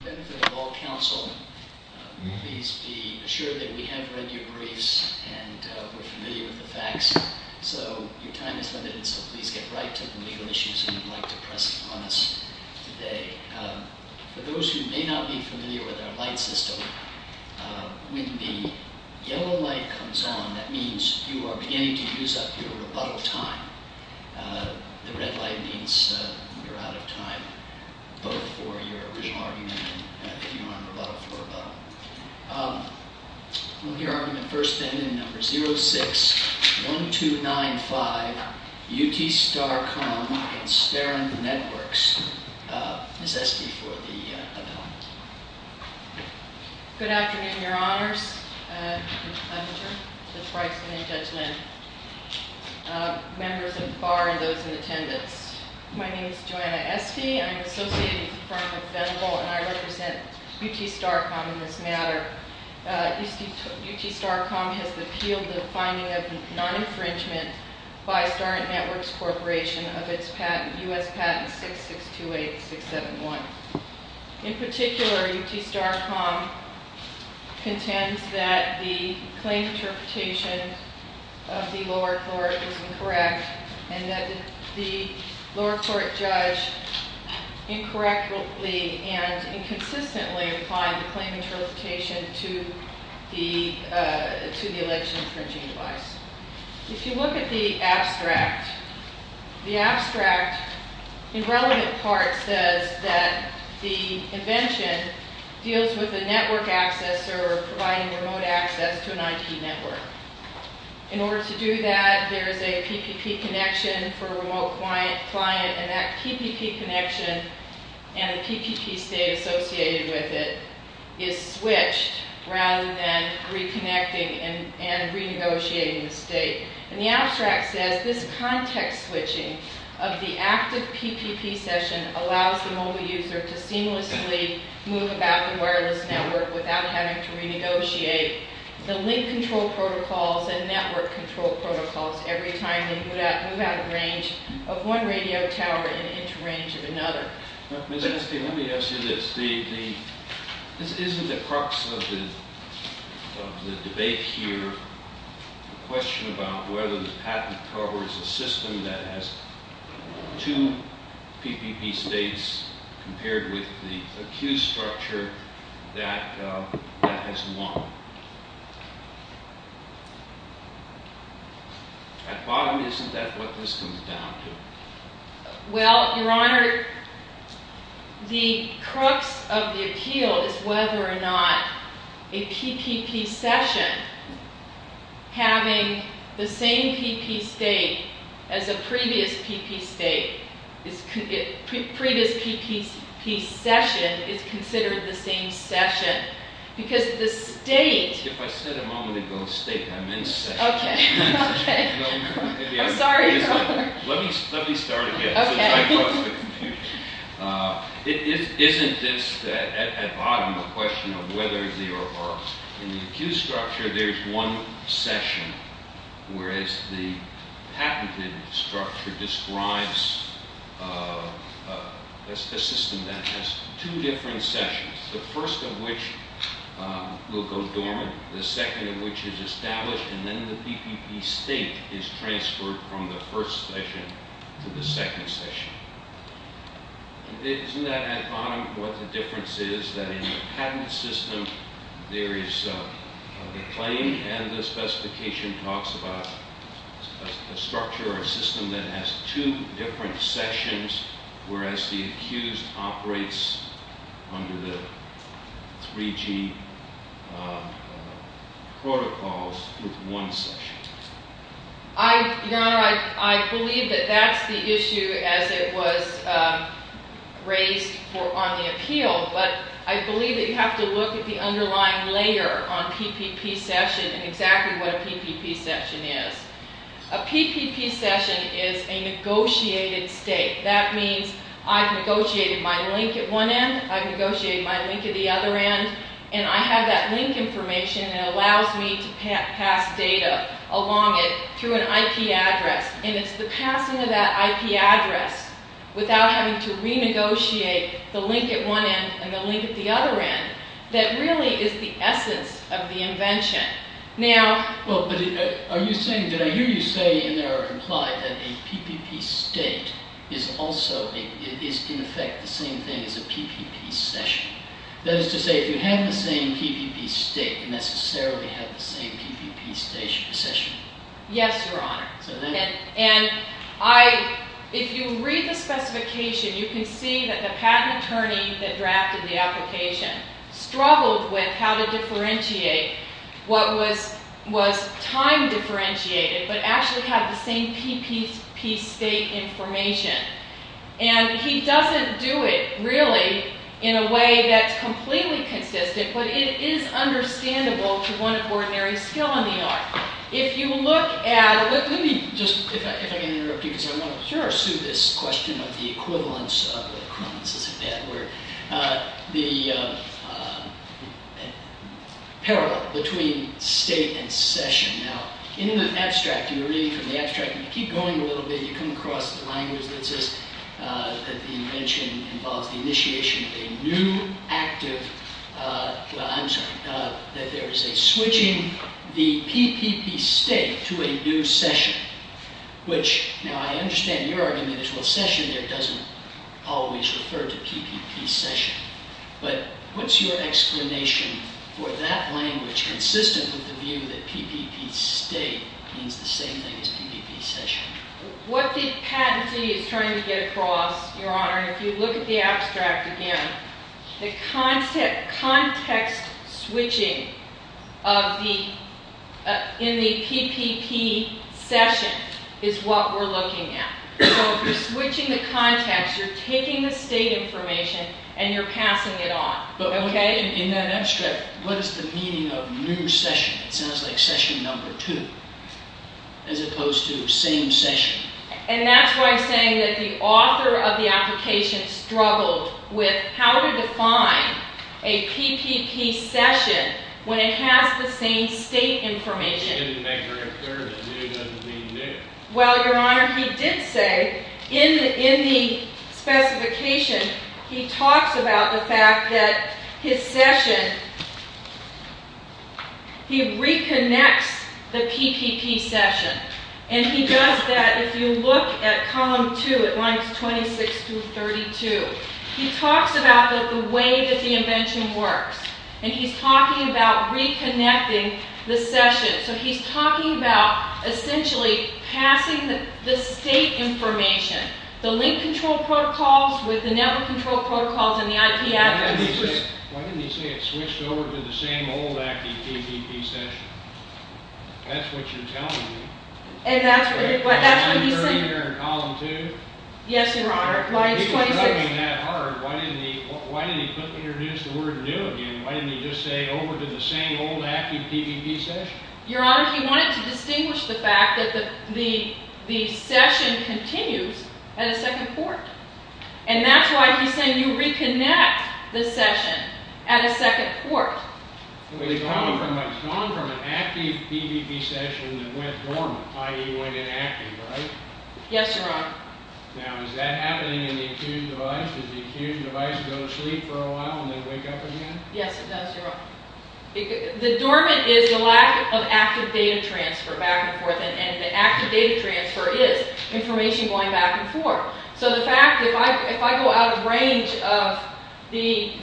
To the benefit of all counsel, please be assured that we have read your briefs and we're familiar with the facts. So, your time is limited, so please get right to the legal issues you would like to press upon us today. For those who may not be familiar with our light system, when the yellow light comes on, that means you are beginning to use up your rebuttal time. The red light means you're out of time, both for your original argument and if you want a rebuttal, for a rebuttal. We'll hear argument first then in number 06-1295, UTstarcom v. Starent Networks. Ms. Esty for the amendment. Good afternoon, Your Honors, Mr. Leffinger, Ms. Bryson, and Judge Lynn, members of the Bar and those in attendance. My name is Joanna Esty. I am associated with the firm of Venable and I represent UTstarcom in this matter. UTstarcom has appealed the finding of non-infringement by Starent Networks Corporation of its patent, U.S. Patent 6628671. In particular, UTstarcom contends that the claim interpretation of the lower court is incorrect and that the lower court judge incorrectly and inconsistently applied the claim interpretation to the election infringing device. If you look at the abstract, the abstract in relevant parts says that the invention deals with a network access or providing remote access to an IP network. In order to do that, there is a PPP connection for a remote client and that PPP connection and the PPP state associated with it is switched rather than reconnecting and renegotiating the state. And the abstract says this context switching of the active PPP session allows the mobile user to seamlessly move about the wireless network without having to renegotiate the link control protocols and network control protocols every time they move out of range of one radio tower and into range of another. Let me ask you this. Isn't the crux of the debate here a question about whether the patent covers a system that has two PPP states compared with the accused structure that has one? At bottom, isn't that what this comes down to? Well, Your Honor, the crux of the appeal is whether or not a PPP session having the same PPP state as a previous PPP session is considered the same session. If I said a moment ago state, I meant session. I'm sorry, Your Honor. Let me start again. Isn't this, at bottom, a question of whether there are, in the accused structure, there's one session, whereas the patented structure describes a system that has two different sessions, the first of which will go dormant, the second of which is established, and then the PPP state is transferred from the first session to the second session? Isn't that, at bottom, what the difference is, that in the patent system, there is the claim and the specification talks about a structure or a system that has two different sessions, whereas the accused operates under the 3G protocols with one session? Your Honor, I believe that that's the issue as it was raised on the appeal, but I believe that you have to look at the underlying layer on PPP session and exactly what a PPP session is. A PPP session is a negotiated state. That means I've negotiated my link at one end, I've negotiated my link at the other end, and I have that link information that allows me to pass data along it through an IP address, and it's the passing of that IP address without having to renegotiate the link at one end and the link at the other end that really is the essence of the invention. Well, but are you saying, did I hear you say in there or imply that a PPP state is also in effect the same thing as a PPP session? That is to say, if you have the same PPP state, you necessarily have the same PPP session? Yes, Your Honor. And I – if you read the specification, you can see that the patent attorney that drafted the application struggled with how to differentiate what was time-differentiated but actually had the same PPP state information. And he doesn't do it really in a way that's completely consistent, but it is understandable to one ordinary skill in the art. If you look at – let me just – if I can interrupt you because I want to pursue this question of the equivalence of equivalences of that where the parallel between state and session. Now, in the abstract, you read from the abstract and you keep going a little bit, you come across the language that says that the invention involves the initiation of a new active – well, I'm sorry – that there is a switching the PPP state to a new session, which now I understand your argument is, well, session there doesn't always refer to PPP session. But what's your explanation for that language consistent with the view that PPP state means the same thing as PPP session? What the patentee is trying to get across, Your Honor, if you look at the abstract again, the context switching of the – in the PPP session is what we're looking at. So if you're switching the context, you're taking the state information and you're passing it on. But in that abstract, what is the meaning of new session? It sounds like session number two as opposed to same session. And that's why I'm saying that the author of the application struggled with how to define a PPP session when it has the same state information. He didn't make very clear that new doesn't mean new. Well, Your Honor, he did say in the specification he talks about the fact that his session – he reconnects the PPP session. And he does that – if you look at column two at lines 26 through 32, he talks about the way that the invention works. And he's talking about reconnecting the session. So he's talking about essentially passing the state information, the link control protocols with the network control protocols and the IP address. Why didn't he say it switched over to the same old acting PPP session? That's what you're telling me. And that's what he said. Yes, Your Honor. If he was struggling that hard, why didn't he quickly introduce the word new again? Why didn't he just say over to the same old active PPP session? Your Honor, he wanted to distinguish the fact that the session continues at a second port. And that's why he's saying you reconnect the session at a second port. He's gone from an active PPP session that went dormant, i.e. went inactive, right? Yes, Your Honor. Now, is that happening in the accused device? Does the accused device go to sleep for a while and then wake up again? Yes, it does, Your Honor. The dormant is the lack of active data transfer back and forth. And the active data transfer is information going back and forth. So the fact, if I go out of range of the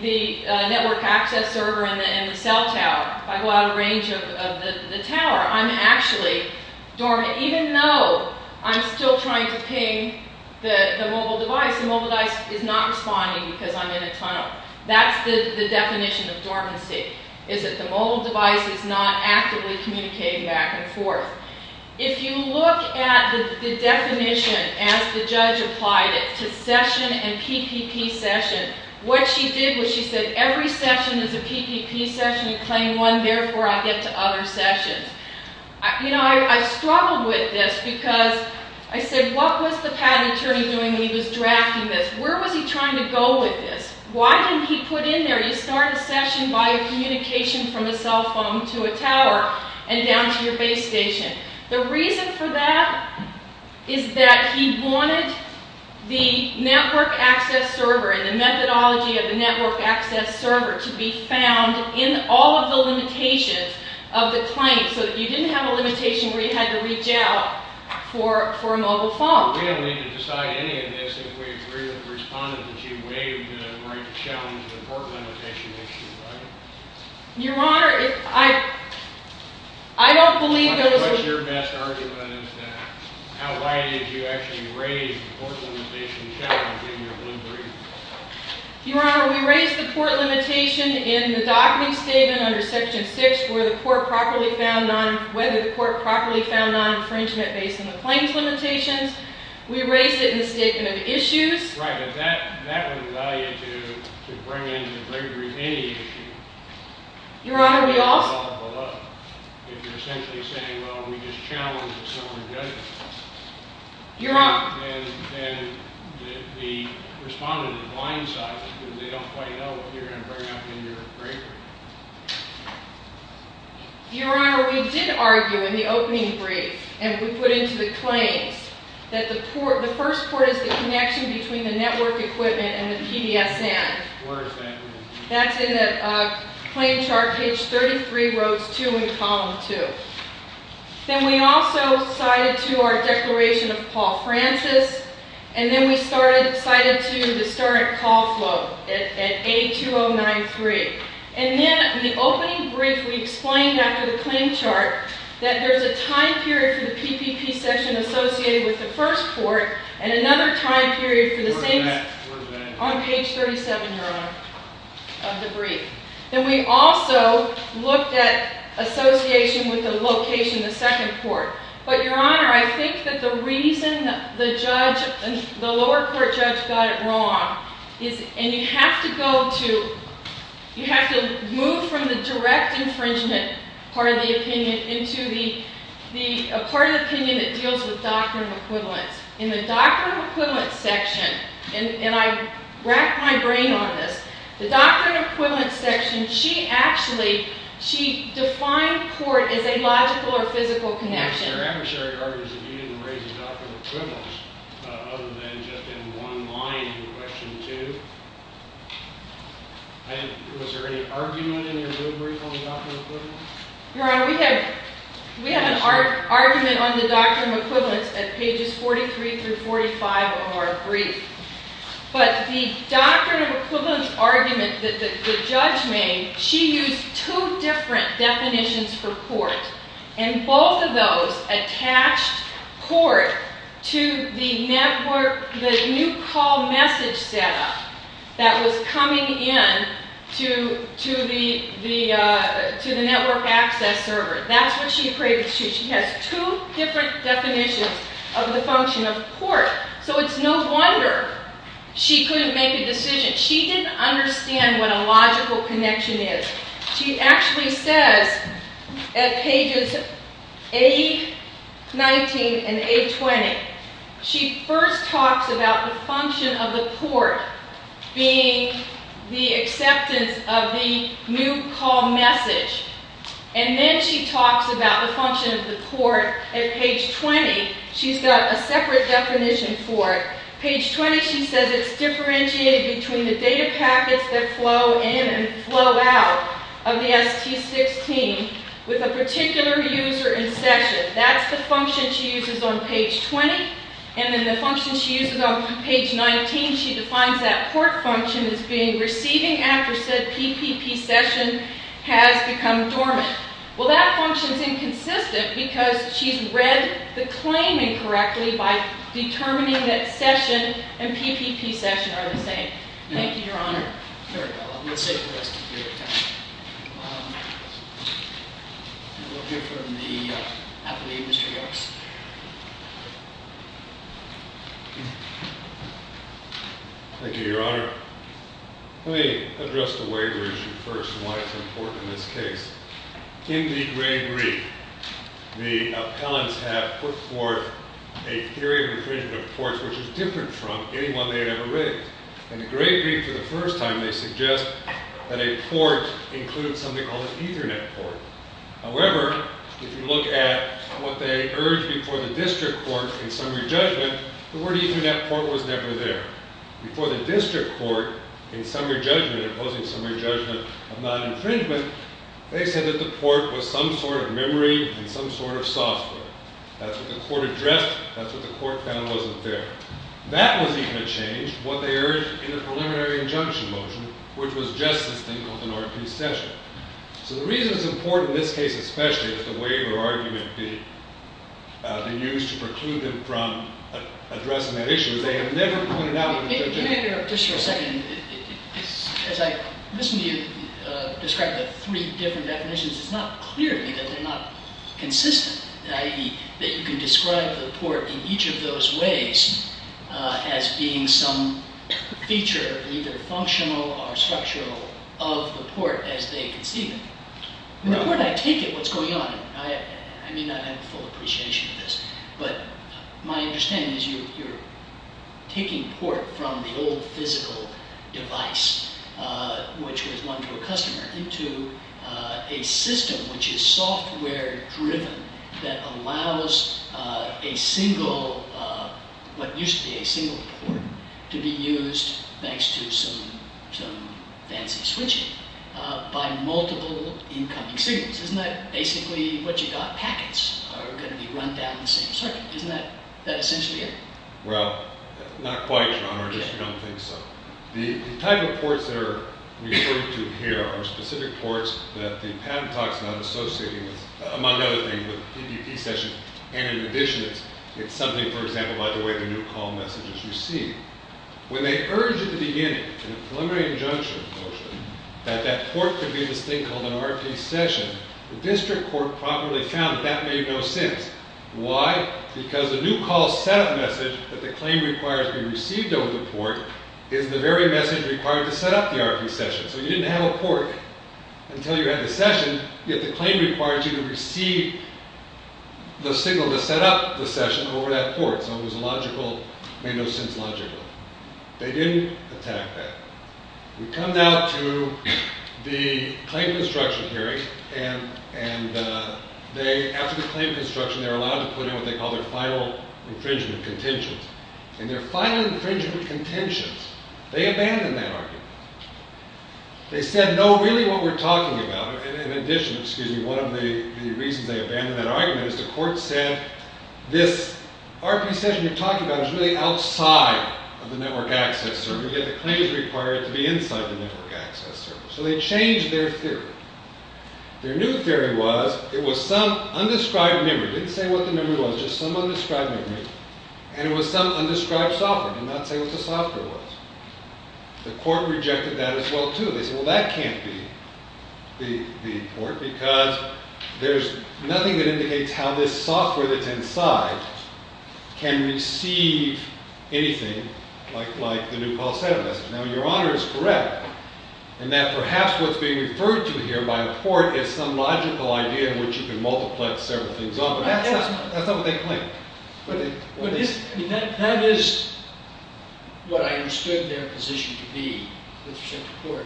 network access server and the cell tower, if I go out of range of the tower, I'm actually dormant. Even though I'm still trying to ping the mobile device, the mobile device is not responding because I'm in a tunnel. That's the definition of dormancy, is that the mobile device is not actively communicating back and forth. If you look at the definition as the judge applied it to session and PPP session, what she did was she said, every session is a PPP session, you claim one, therefore I get to other sessions. You know, I struggled with this because I said, what was the patent attorney doing when he was drafting this? Where was he trying to go with this? Why didn't he put in there, you start a session by a communication from a cell phone to a tower and down to your base station. The reason for that is that he wanted the network access server and the methodology of the network access server to be found in all of the limitations of the claim. So that you didn't have a limitation where you had to reach out for a mobile phone. We don't need to decide any of this if we agree with the respondent that you waived the right to challenge the court limitation issue, right? Your Honor, I don't believe those... What's your best argument is that? Why did you actually raise the court limitation challenge in your blue brief? Your Honor, we raised the court limitation in the docketing statement under section 6 where the court properly found on, infringement based on the claims limitations. We raised it in the statement of issues. Right, but that wouldn't allow you to bring into the brief any issue. Your Honor, we also... If you're essentially saying, well, we just challenged a similar judgment. Your Honor... And the respondent is blindsided because they don't quite know what you're going to bring up in your brief. Your Honor, we did argue in the opening brief, and we put into the claims, that the first court is the connection between the network equipment and the PDSN. Where is that? That's in the claim chart, page 33, rows 2 and column 2. Then we also cited to our declaration of Paul Francis. And then we cited to the historic call flow at A2093. And then in the opening brief, we explained after the claim chart, that there's a time period for the PPP section associated with the first court. And another time period for the same... Where's that? Where's that? On page 37, Your Honor, of the brief. Then we also looked at association with the location of the second court. But, Your Honor, I think that the reason the lower court judge got it wrong is... And you have to go to... You have to move from the direct infringement part of the opinion into the part of the opinion that deals with doctrine of equivalence. In the doctrine of equivalence section... And I racked my brain on this. The doctrine of equivalence section, she actually... She defined court as a logical or physical connection. Your Honor, we have an argument on the doctrine of equivalence at pages 43 through 45 of our brief. But the doctrine of equivalence argument that the judge made, she used two different definitions for court. And both of those attached court to the network... The new call message setup that was coming in to the network access server. That's what she equates to. She has two different definitions of the function of court. So it's no wonder she couldn't make a decision. She didn't understand what a logical connection is. She actually says at pages 8, 19, and 8, 20... She first talks about the function of the court being the acceptance of the new call message. And then she talks about the function of the court at page 20. She's got a separate definition for it. Page 20, she says it's differentiated between the data packets that flow in and flow out of the ST16 with a particular user in session. That's the function she uses on page 20. And then the function she uses on page 19, she defines that court function as being receiving after said PPP session has become dormant. Well, that function's inconsistent because she's read the claim incorrectly by determining that session and PPP session are the same. Thank you, Your Honor. Very well. I'm going to take the rest of your time. We'll hear from the appellee, Mr. Yarks. Thank you, Your Honor. Let me address the waiver issue first and why it's important in this case. In the gray brief, the appellants have put forth a theory of infringement of ports, which is different from any one they had ever raised. In the gray brief for the first time, they suggest that a port includes something called an Ethernet port. However, if you look at what they urged before the district court in summary judgment, the word Ethernet port was never there. Before the district court in summary judgment, opposing summary judgment of non-infringement, they said that the port was some sort of memory and some sort of software. That's what the court addressed. That's what the court found wasn't there. That was even a change, what they urged in the preliminary injunction motion, which was just this thing called an RP session. So the reason it's important in this case, especially, that the waiver argument be used to preclude them from addressing that issue is they have never pointed out that it's legitimate. If you may interrupt just for a second. As I listen to you describe the three different definitions, it's not clear to me that they're not consistent, i.e., that you can describe the port in each of those ways as being some feature, either functional or structural, of the port as they conceive it. The port, I take it, what's going on. I mean, I have full appreciation for this. But my understanding is you're taking port from the old physical device, which was one to a customer, into a system which is software-driven that allows a single, what used to be a single port, to be used, thanks to some fancy switching, by multiple incoming signals. Isn't that basically what you got? Packets are going to be run down the same circuit. Isn't that essentially it? Well, not quite, Your Honor. I just don't think so. The type of ports that are referred to here are specific ports that the patent talks are not associating with, among other things, with PPP session. And in addition, it's something, for example, about the way the new call message is received. When they urged at the beginning, in a preliminary injunction, that that port could be in this thing called an RP session, the district court promptly found that that made no sense. Why? Because the new call setup message that the claim requires to be received over the port is the very message required to set up the RP session. So you didn't have a port until you had the session, yet the claim required you to receive the signal to set up the session over that port. So it made no sense logically. They didn't attack that. We come now to the claim construction hearing. And after the claim construction, they were allowed to put in what they called their final infringement contentions. And their final infringement contentions, they abandoned that argument. They said, no, really, what we're talking about. In addition, one of the reasons they abandoned that argument is the court said, this RP session you're talking about is really outside of the network access circle. Yet the claim is required to be inside the network access circle. So they changed their theory. Their new theory was, it was some undescribed memory. They didn't say what the memory was, just some undescribed memory. And it was some undescribed software. They did not say what the software was. The court rejected that as well, too. They said, well, that can't be the port. Because there's nothing that indicates how this software that's inside can receive anything like the new call center message. Now, your honor is correct in that perhaps what's being referred to here by the court is some logical idea in which you can multiply several things off. But that's not what they claim. But that is what I understood their position to be with respect to court.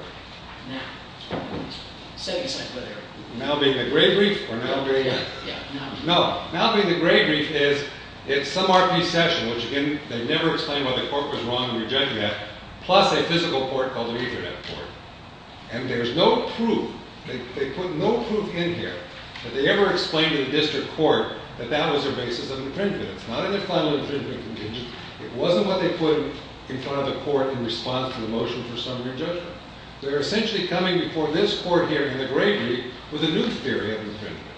Now. Say it a second later. Now being the gray brief, or now being the? Yeah, now. No. Now being the gray brief is, it's some RP session, which, again, they never explained why the court was wrong in rejecting that, plus a physical port called the Ethernet port. And there's no proof. They put no proof in here that they ever explained to the district court that that was their basis of infringement. It's not in their final infringement contingent. It wasn't what they put in front of the court in response to the motion for summary judgment. They're essentially coming before this court here in the gray brief with a new theory of infringement,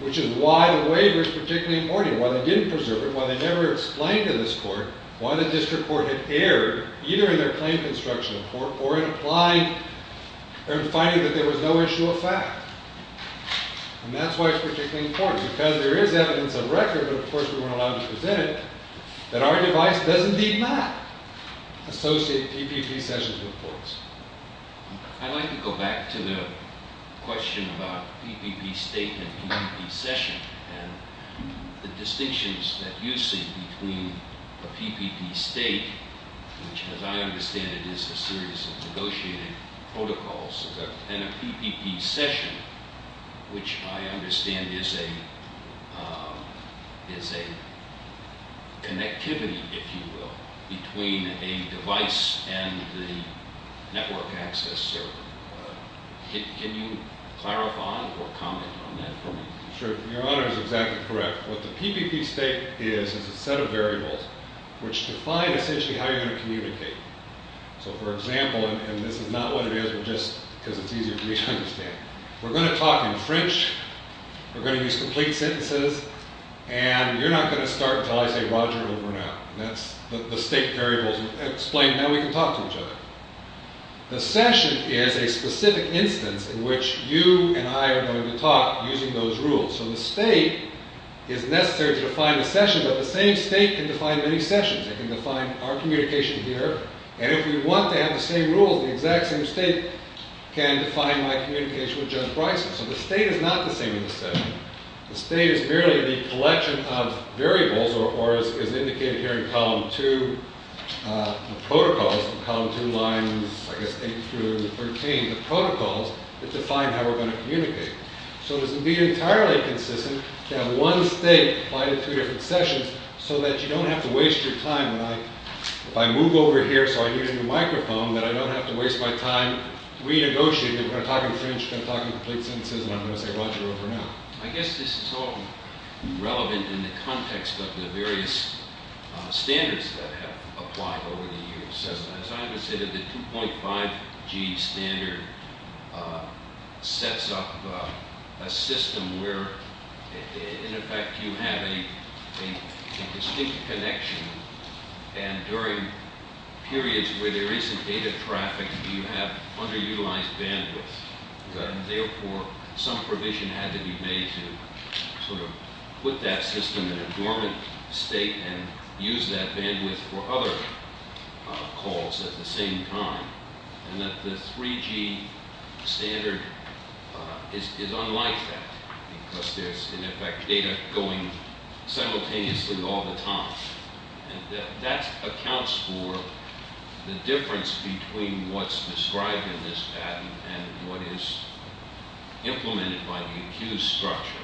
which is why the waiver is particularly important. Why they didn't preserve it. Why they never explained to this court why the district court had erred, either in their claim construction report or in finding that there was no issue of fact. And that's why it's particularly important. Because there is evidence of record, but of course we weren't allowed to present it, that our device does indeed not associate PPP sessions with courts. I'd like to go back to the question about PPP state and PPP session and the distinctions that you see between a PPP state, which as I understand it is a series of negotiated protocols, and a PPP session, which I understand is a connectivity, if you will, between a device and the network access server. Can you clarify or comment on that for me? Sure. Your Honor is exactly correct. What the PPP state is, is a set of variables which define essentially how you're going to communicate. So for example, and this is not what it is, but just because it's easier for me to understand. We're going to talk in French. We're going to use complete sentences. And you're not going to start until I say Roger over and out. That's the state variables explain how we can talk to each other. The session is a specific instance in which you and I are going to talk using those rules. So the state is necessary to define the session, but the same state can define many sessions. It can define our communication here. And if we want to have the same rules, the exact same state can define my communication with Judge Bryson. So the state is not the same in the session. The state is merely the collection of variables, or as indicated here in Column 2 of protocols, Column 2 lines, I guess, 8 through 13 of protocols, that define how we're going to communicate. So it would be entirely consistent to have one state apply to three different sessions so that you don't have to waste your time. If I move over here so I can use the microphone, then I don't have to waste my time renegotiating. We're going to talk in French. We're going to talk in complete sentences. And I'm going to say Roger over and out. I guess this is all relevant in the context of the various standards that have applied over the years. As Ivan said, the 2.5G standard sets up a system where, in effect, you have a distinct connection. And during periods where there isn't data traffic, you have underutilized bandwidth. Therefore, some provision had to be made to sort of put that system in a dormant state and use that bandwidth for other calls at the same time. And that the 3G standard is unlike that because there's, in effect, data going simultaneously all the time. And that accounts for the difference between what's described in this patent and what is implemented by the accused structure.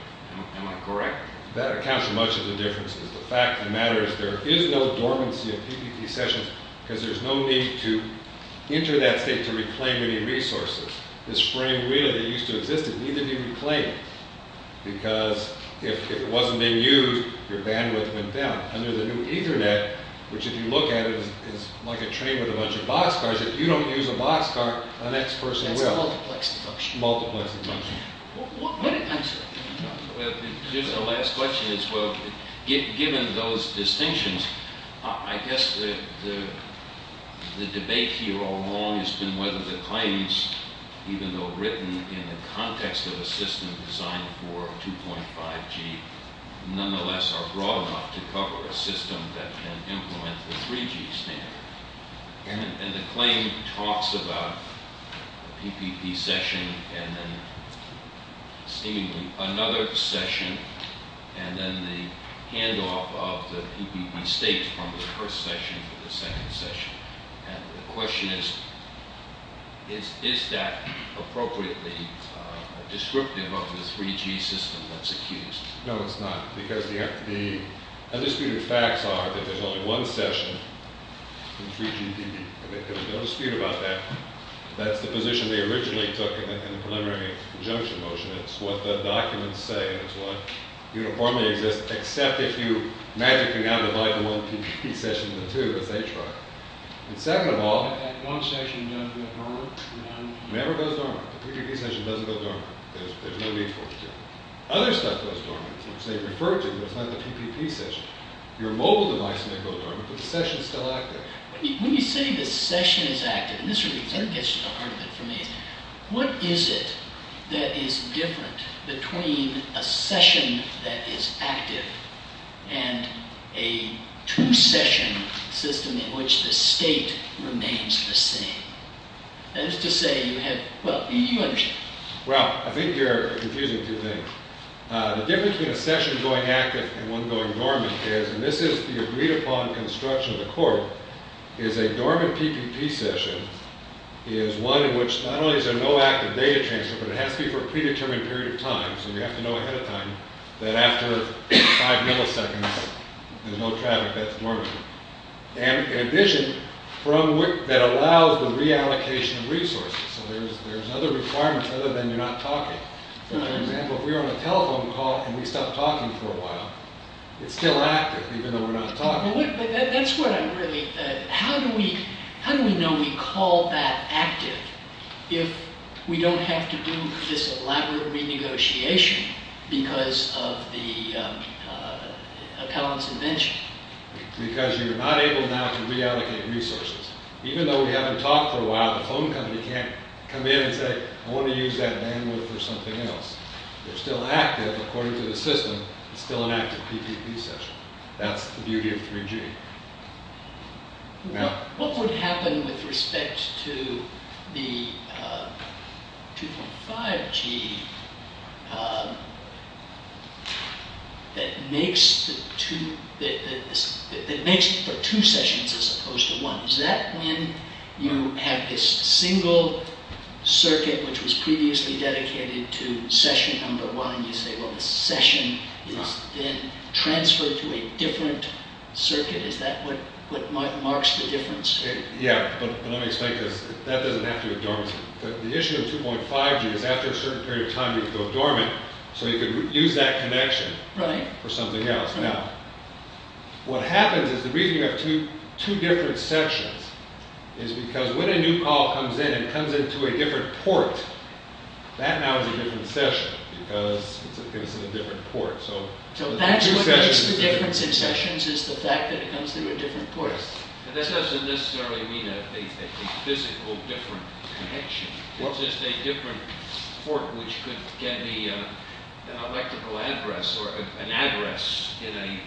Am I correct? That accounts for much of the differences. The fact of the matter is there is no dormancy of PPP sessions because there's no need to enter that state to reclaim any resources. This frame really used to exist. It needed to be reclaimed because if it wasn't being used, your bandwidth went down. And there's a new Ethernet which, if you look at it, is like a train with a bunch of boxcars. If you don't use a boxcar, the next person will. It's a multiplexed function. Multiplexed function. What answer? Well, just the last question is, well, given those distinctions, I guess the debate here all along has been whether the claims, even though written in the context of a system designed for 2.5G, nonetheless are broad enough to cover a system that can implement the 3G standard. And the claim talks about PPP session and then seemingly another session and then the handoff of the PPP state from the first session to the second session. And the question is, is that appropriately descriptive of the 3G system that's accused? No, it's not. Because the undisputed facts are that there's only one session in 3GPP. There's no dispute about that. That's the position they originally took in the preliminary injunction motion. It's what the documents say, and it's what uniformly exists, except if you magically now divide the one PPP session into two, as they try. And second of all— That one session doesn't go dormant? It never goes dormant. The PPP session doesn't go dormant. There's no need for it. Other stuff goes dormant, which they refer to, but it's not the PPP session. Your mobile device may go dormant, but the session's still active. When you say the session is active—and this really gets to the heart of it for me— what is it that is different between a session that is active and a two-session system in which the state remains the same? That is to say you have—well, you understand. Well, I think you're confusing two things. The difference between a session going active and one going dormant is— and this is the agreed-upon construction of the court— is a dormant PPP session is one in which not only is there no active data transfer, but it has to be for a predetermined period of time. So you have to know ahead of time that after five milliseconds, there's no traffic. That's dormant. And in addition, that allows the reallocation of resources. So there's other requirements other than you're not talking. For example, if we're on a telephone call and we stop talking for a while, it's still active even though we're not talking. But that's what I'm really—how do we know we call that active if we don't have to do this elaborate renegotiation because of the appellant's invention? Because you're not able now to reallocate resources. Even though we haven't talked for a while, the phone company can't come in and say, I want to use that bandwidth for something else. They're still active according to the system. It's still an active PPP session. That's the beauty of 3G. What would happen with respect to the 2.5G that makes for two sessions as opposed to one? Is that when you have this single circuit, which was previously dedicated to session number one, you say, well, the session is then transferred to a different circuit? Is that what marks the difference? Yeah, but let me explain this. That doesn't have to be dormant. The issue of 2.5G is after a certain period of time, you can go dormant, so you can use that connection for something else. Now, what happens is the reason you have two different sections is because when a new call comes in and comes into a different port, that now is a different session because it's in a different port. So that's what makes the difference in sessions is the fact that it comes through a different port. That doesn't necessarily mean a physical different connection. It's just a different port which can be an electrical address or an address in a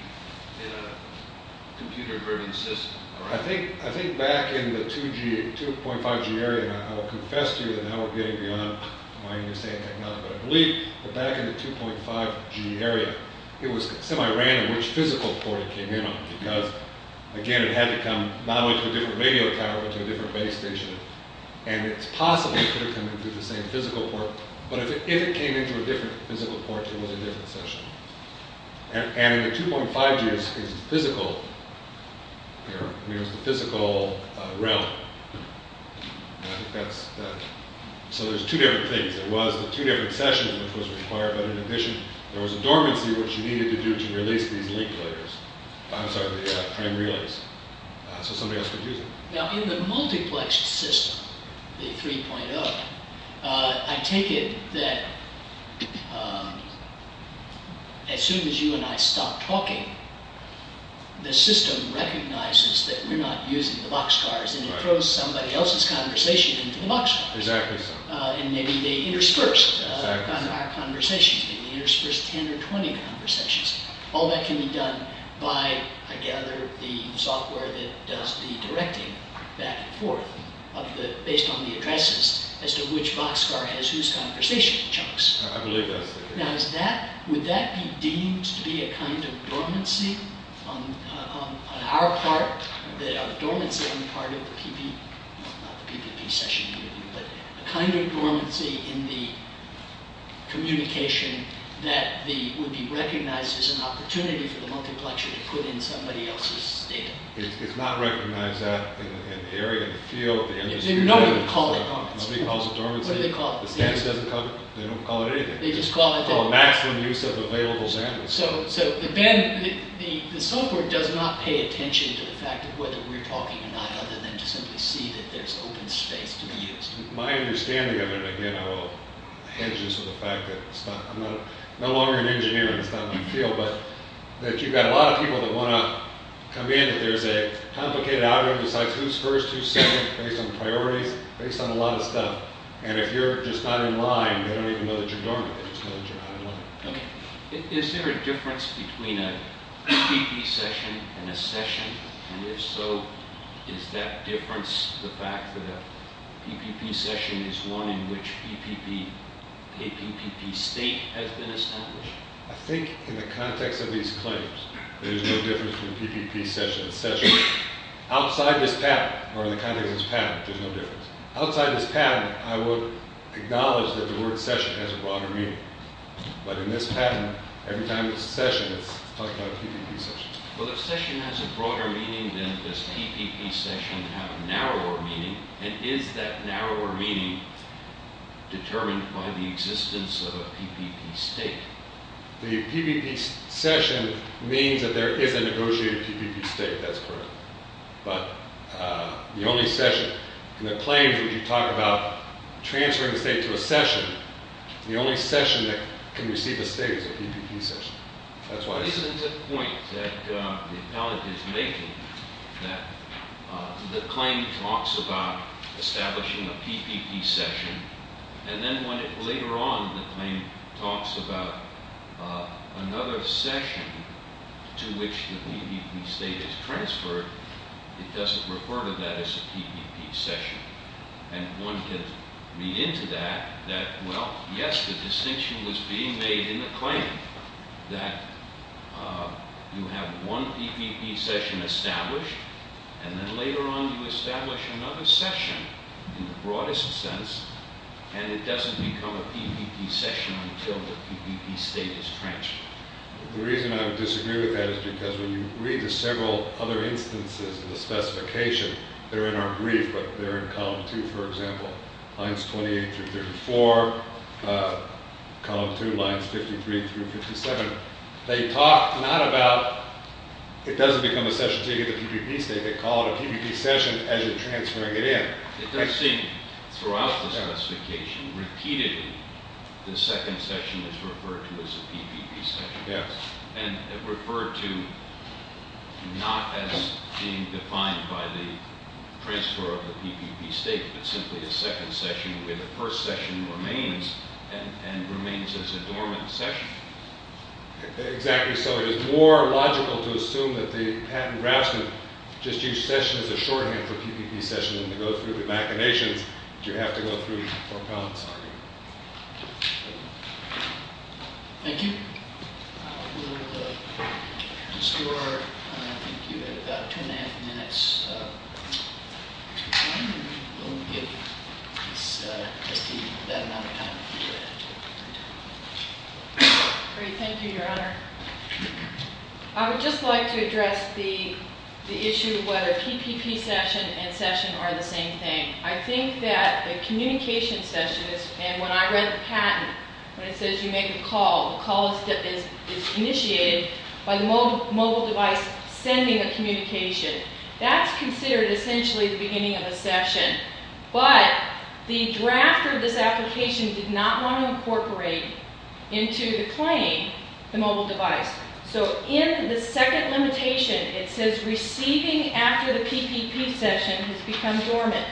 computer-driven system. I think back in the 2.5G area, and I will confess to you that now we're getting beyond my understanding of technology, but I believe that back in the 2.5G area, it was semi-random which physical port it came in on because, again, it had to come not only to a different radio tower but to a different base station, and it possibly could have come in through the same physical port, but if it came into a different physical port, it was a different session. And in the 2.5G, it was the physical realm. So there's two different things. There was the two different sessions which was required, but in addition, there was a dormancy which you needed to do to release these link layers. I'm sorry, prime relays, so somebody else could use them. Now, in the multiplexed system, the 3.0, I take it that as soon as you and I stop talking, the system recognizes that we're not using the boxcars and it throws somebody else's conversation into the boxcars. Exactly so. And maybe they interspersed our conversations. Maybe they interspersed 10 or 20 conversations. All that can be done by, I gather, the software that does the directing back and forth based on the addresses as to which boxcar has whose conversation chunks. I believe that's it. Now, would that be deemed to be a kind of dormancy on our part, a dormancy on the part of the PPP session, a kind of dormancy in the communication that would be recognized as an opportunity for the multiplexer to put in somebody else's data? It's not recognized that in the area, in the field. Nobody calls it dormancy. What do they call it? They don't call it anything. They just call it maximum use of available bandwidth. So the software does not pay attention to the fact of whether we're talking or not other than to simply see that there's open space to be used. My understanding of it, again, I will hedge this with the fact that I'm no longer an engineer. It's not my field. But you've got a lot of people that want to come in if there's a complicated algorithm that decides who's first, who's second based on priorities, based on a lot of stuff. And if you're just not in line, they don't even know that you're dormant. They just know that you're not in line. Okay. Is there a difference between a PPP session and a session? And if so, is that difference the fact that a PPP session is one in which a PPP state has been established? I think in the context of these claims, there's no difference between a PPP session and a session. Outside this pattern, or in the context of this pattern, there's no difference. Outside this pattern, I would acknowledge that the word session has a broader meaning. But in this pattern, every time it's a session, it's talked about a PPP session. Well, if session has a broader meaning, then does PPP session have a narrower meaning? And is that narrower meaning determined by the existence of a PPP state? The PPP session means that there is a negotiated PPP state. That's correct. But the only session in the claims where you talk about transferring the state to a session, the only session that can receive a state is a PPP session. But isn't the point that the appellant is making that the claim talks about establishing a PPP session, and then when later on the claim talks about another session to which the PPP state is transferred, it doesn't refer to that as a PPP session. And one can read into that that, well, yes, the distinction was being made in the claim that you have one PPP session established, and then later on you establish another session, in the broadest sense, and it doesn't become a PPP session until the PPP state is transferred. The reason I would disagree with that is because when you read the several other instances of the specification, they're in our brief, but they're in column two, for example, lines 28 through 34, column two, lines 53 through 57. They talk not about it doesn't become a session until you get the PPP state. They call it a PPP session as you're transferring it in. It does seem throughout the specification, repeatedly, the second session is referred to as a PPP session. Yes. And referred to not as being defined by the transfer of the PPP state, but simply a second session where the first session remains and remains as a dormant session. Exactly so. It is more logical to assume that the patent draftsman just used session as a shorthand for PPP session than to go through the machinations that you have to go through for a comments argument. Thank you. I will distort. I think you have about two and a half minutes. We'll give just that amount of time. Great. Thank you, Your Honor. I would just like to address the issue of whether PPP session and session are the same thing. I think that the communication sessions and when I read the patent, when it says you make a call, a call is initiated by the mobile device sending a communication, that's considered essentially the beginning of a session. But the drafter of this application did not want to incorporate into the claim the mobile device. So in the second limitation, it says receiving after the PPP session has become dormant.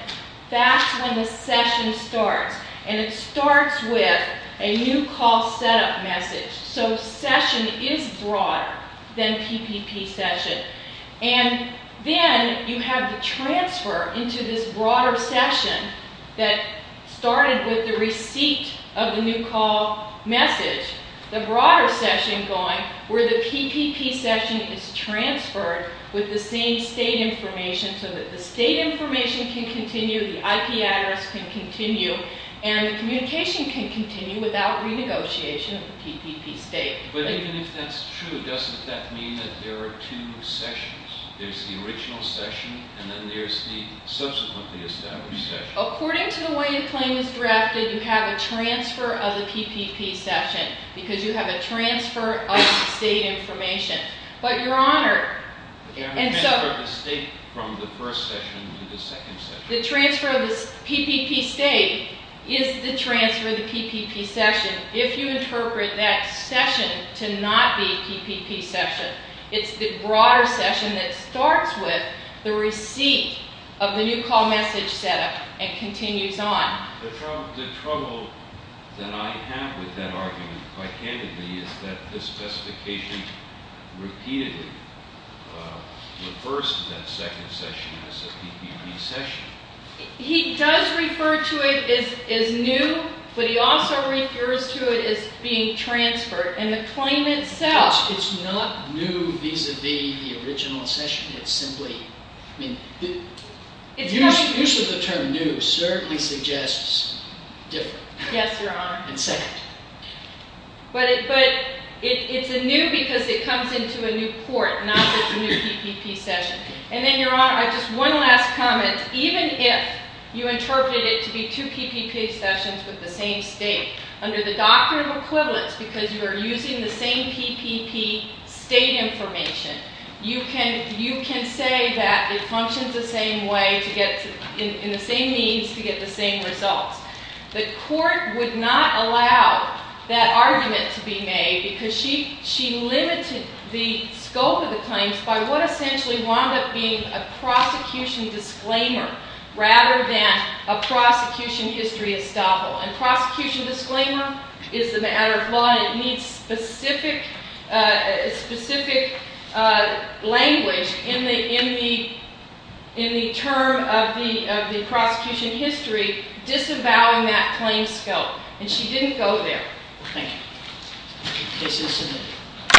That's when the session starts. And it starts with a new call setup message. So session is broader than PPP session. And then you have the transfer into this broader session that started with the receipt of the new call message, the broader session going where the PPP session is transferred with the same state information so that the state information can continue, the IP address can continue, and the communication can continue without renegotiation of the PPP state. But even if that's true, doesn't that mean that there are two sessions? There's the original session and then there's the subsequently established session. According to the way the claim is drafted, you have a transfer of the PPP session because you have a transfer of the state information. But, Your Honor, the transfer of the PPP state is the transfer of the PPP session. If you interpret that session to not be PPP session, it's the broader session that starts with the receipt of the new call message setup and continues on. The trouble that I have with that argument, quite candidly, is that the specification repeatedly refers to that second session as a PPP session. He does refer to it as new, but he also refers to it as being transferred. And the claim itself— It's not new vis-à-vis the original session. I mean, the use of the term new certainly suggests different. Yes, Your Honor. And second. But it's a new because it comes into a new port, not just a new PPP session. And then, Your Honor, just one last comment. Even if you interpreted it to be two PPP sessions with the same state, under the doctrine of equivalence, because you are using the same PPP state information, you can say that it functions the same way, in the same means, to get the same results. The court would not allow that argument to be made because she limited the scope of the claims by what essentially wound up being a prosecution disclaimer rather than a prosecution history estoppel. And prosecution disclaimer is the matter of law, and it needs specific language in the term of the prosecution history disavowing that claim scope. And she didn't go there. Thank you. Case is submitted.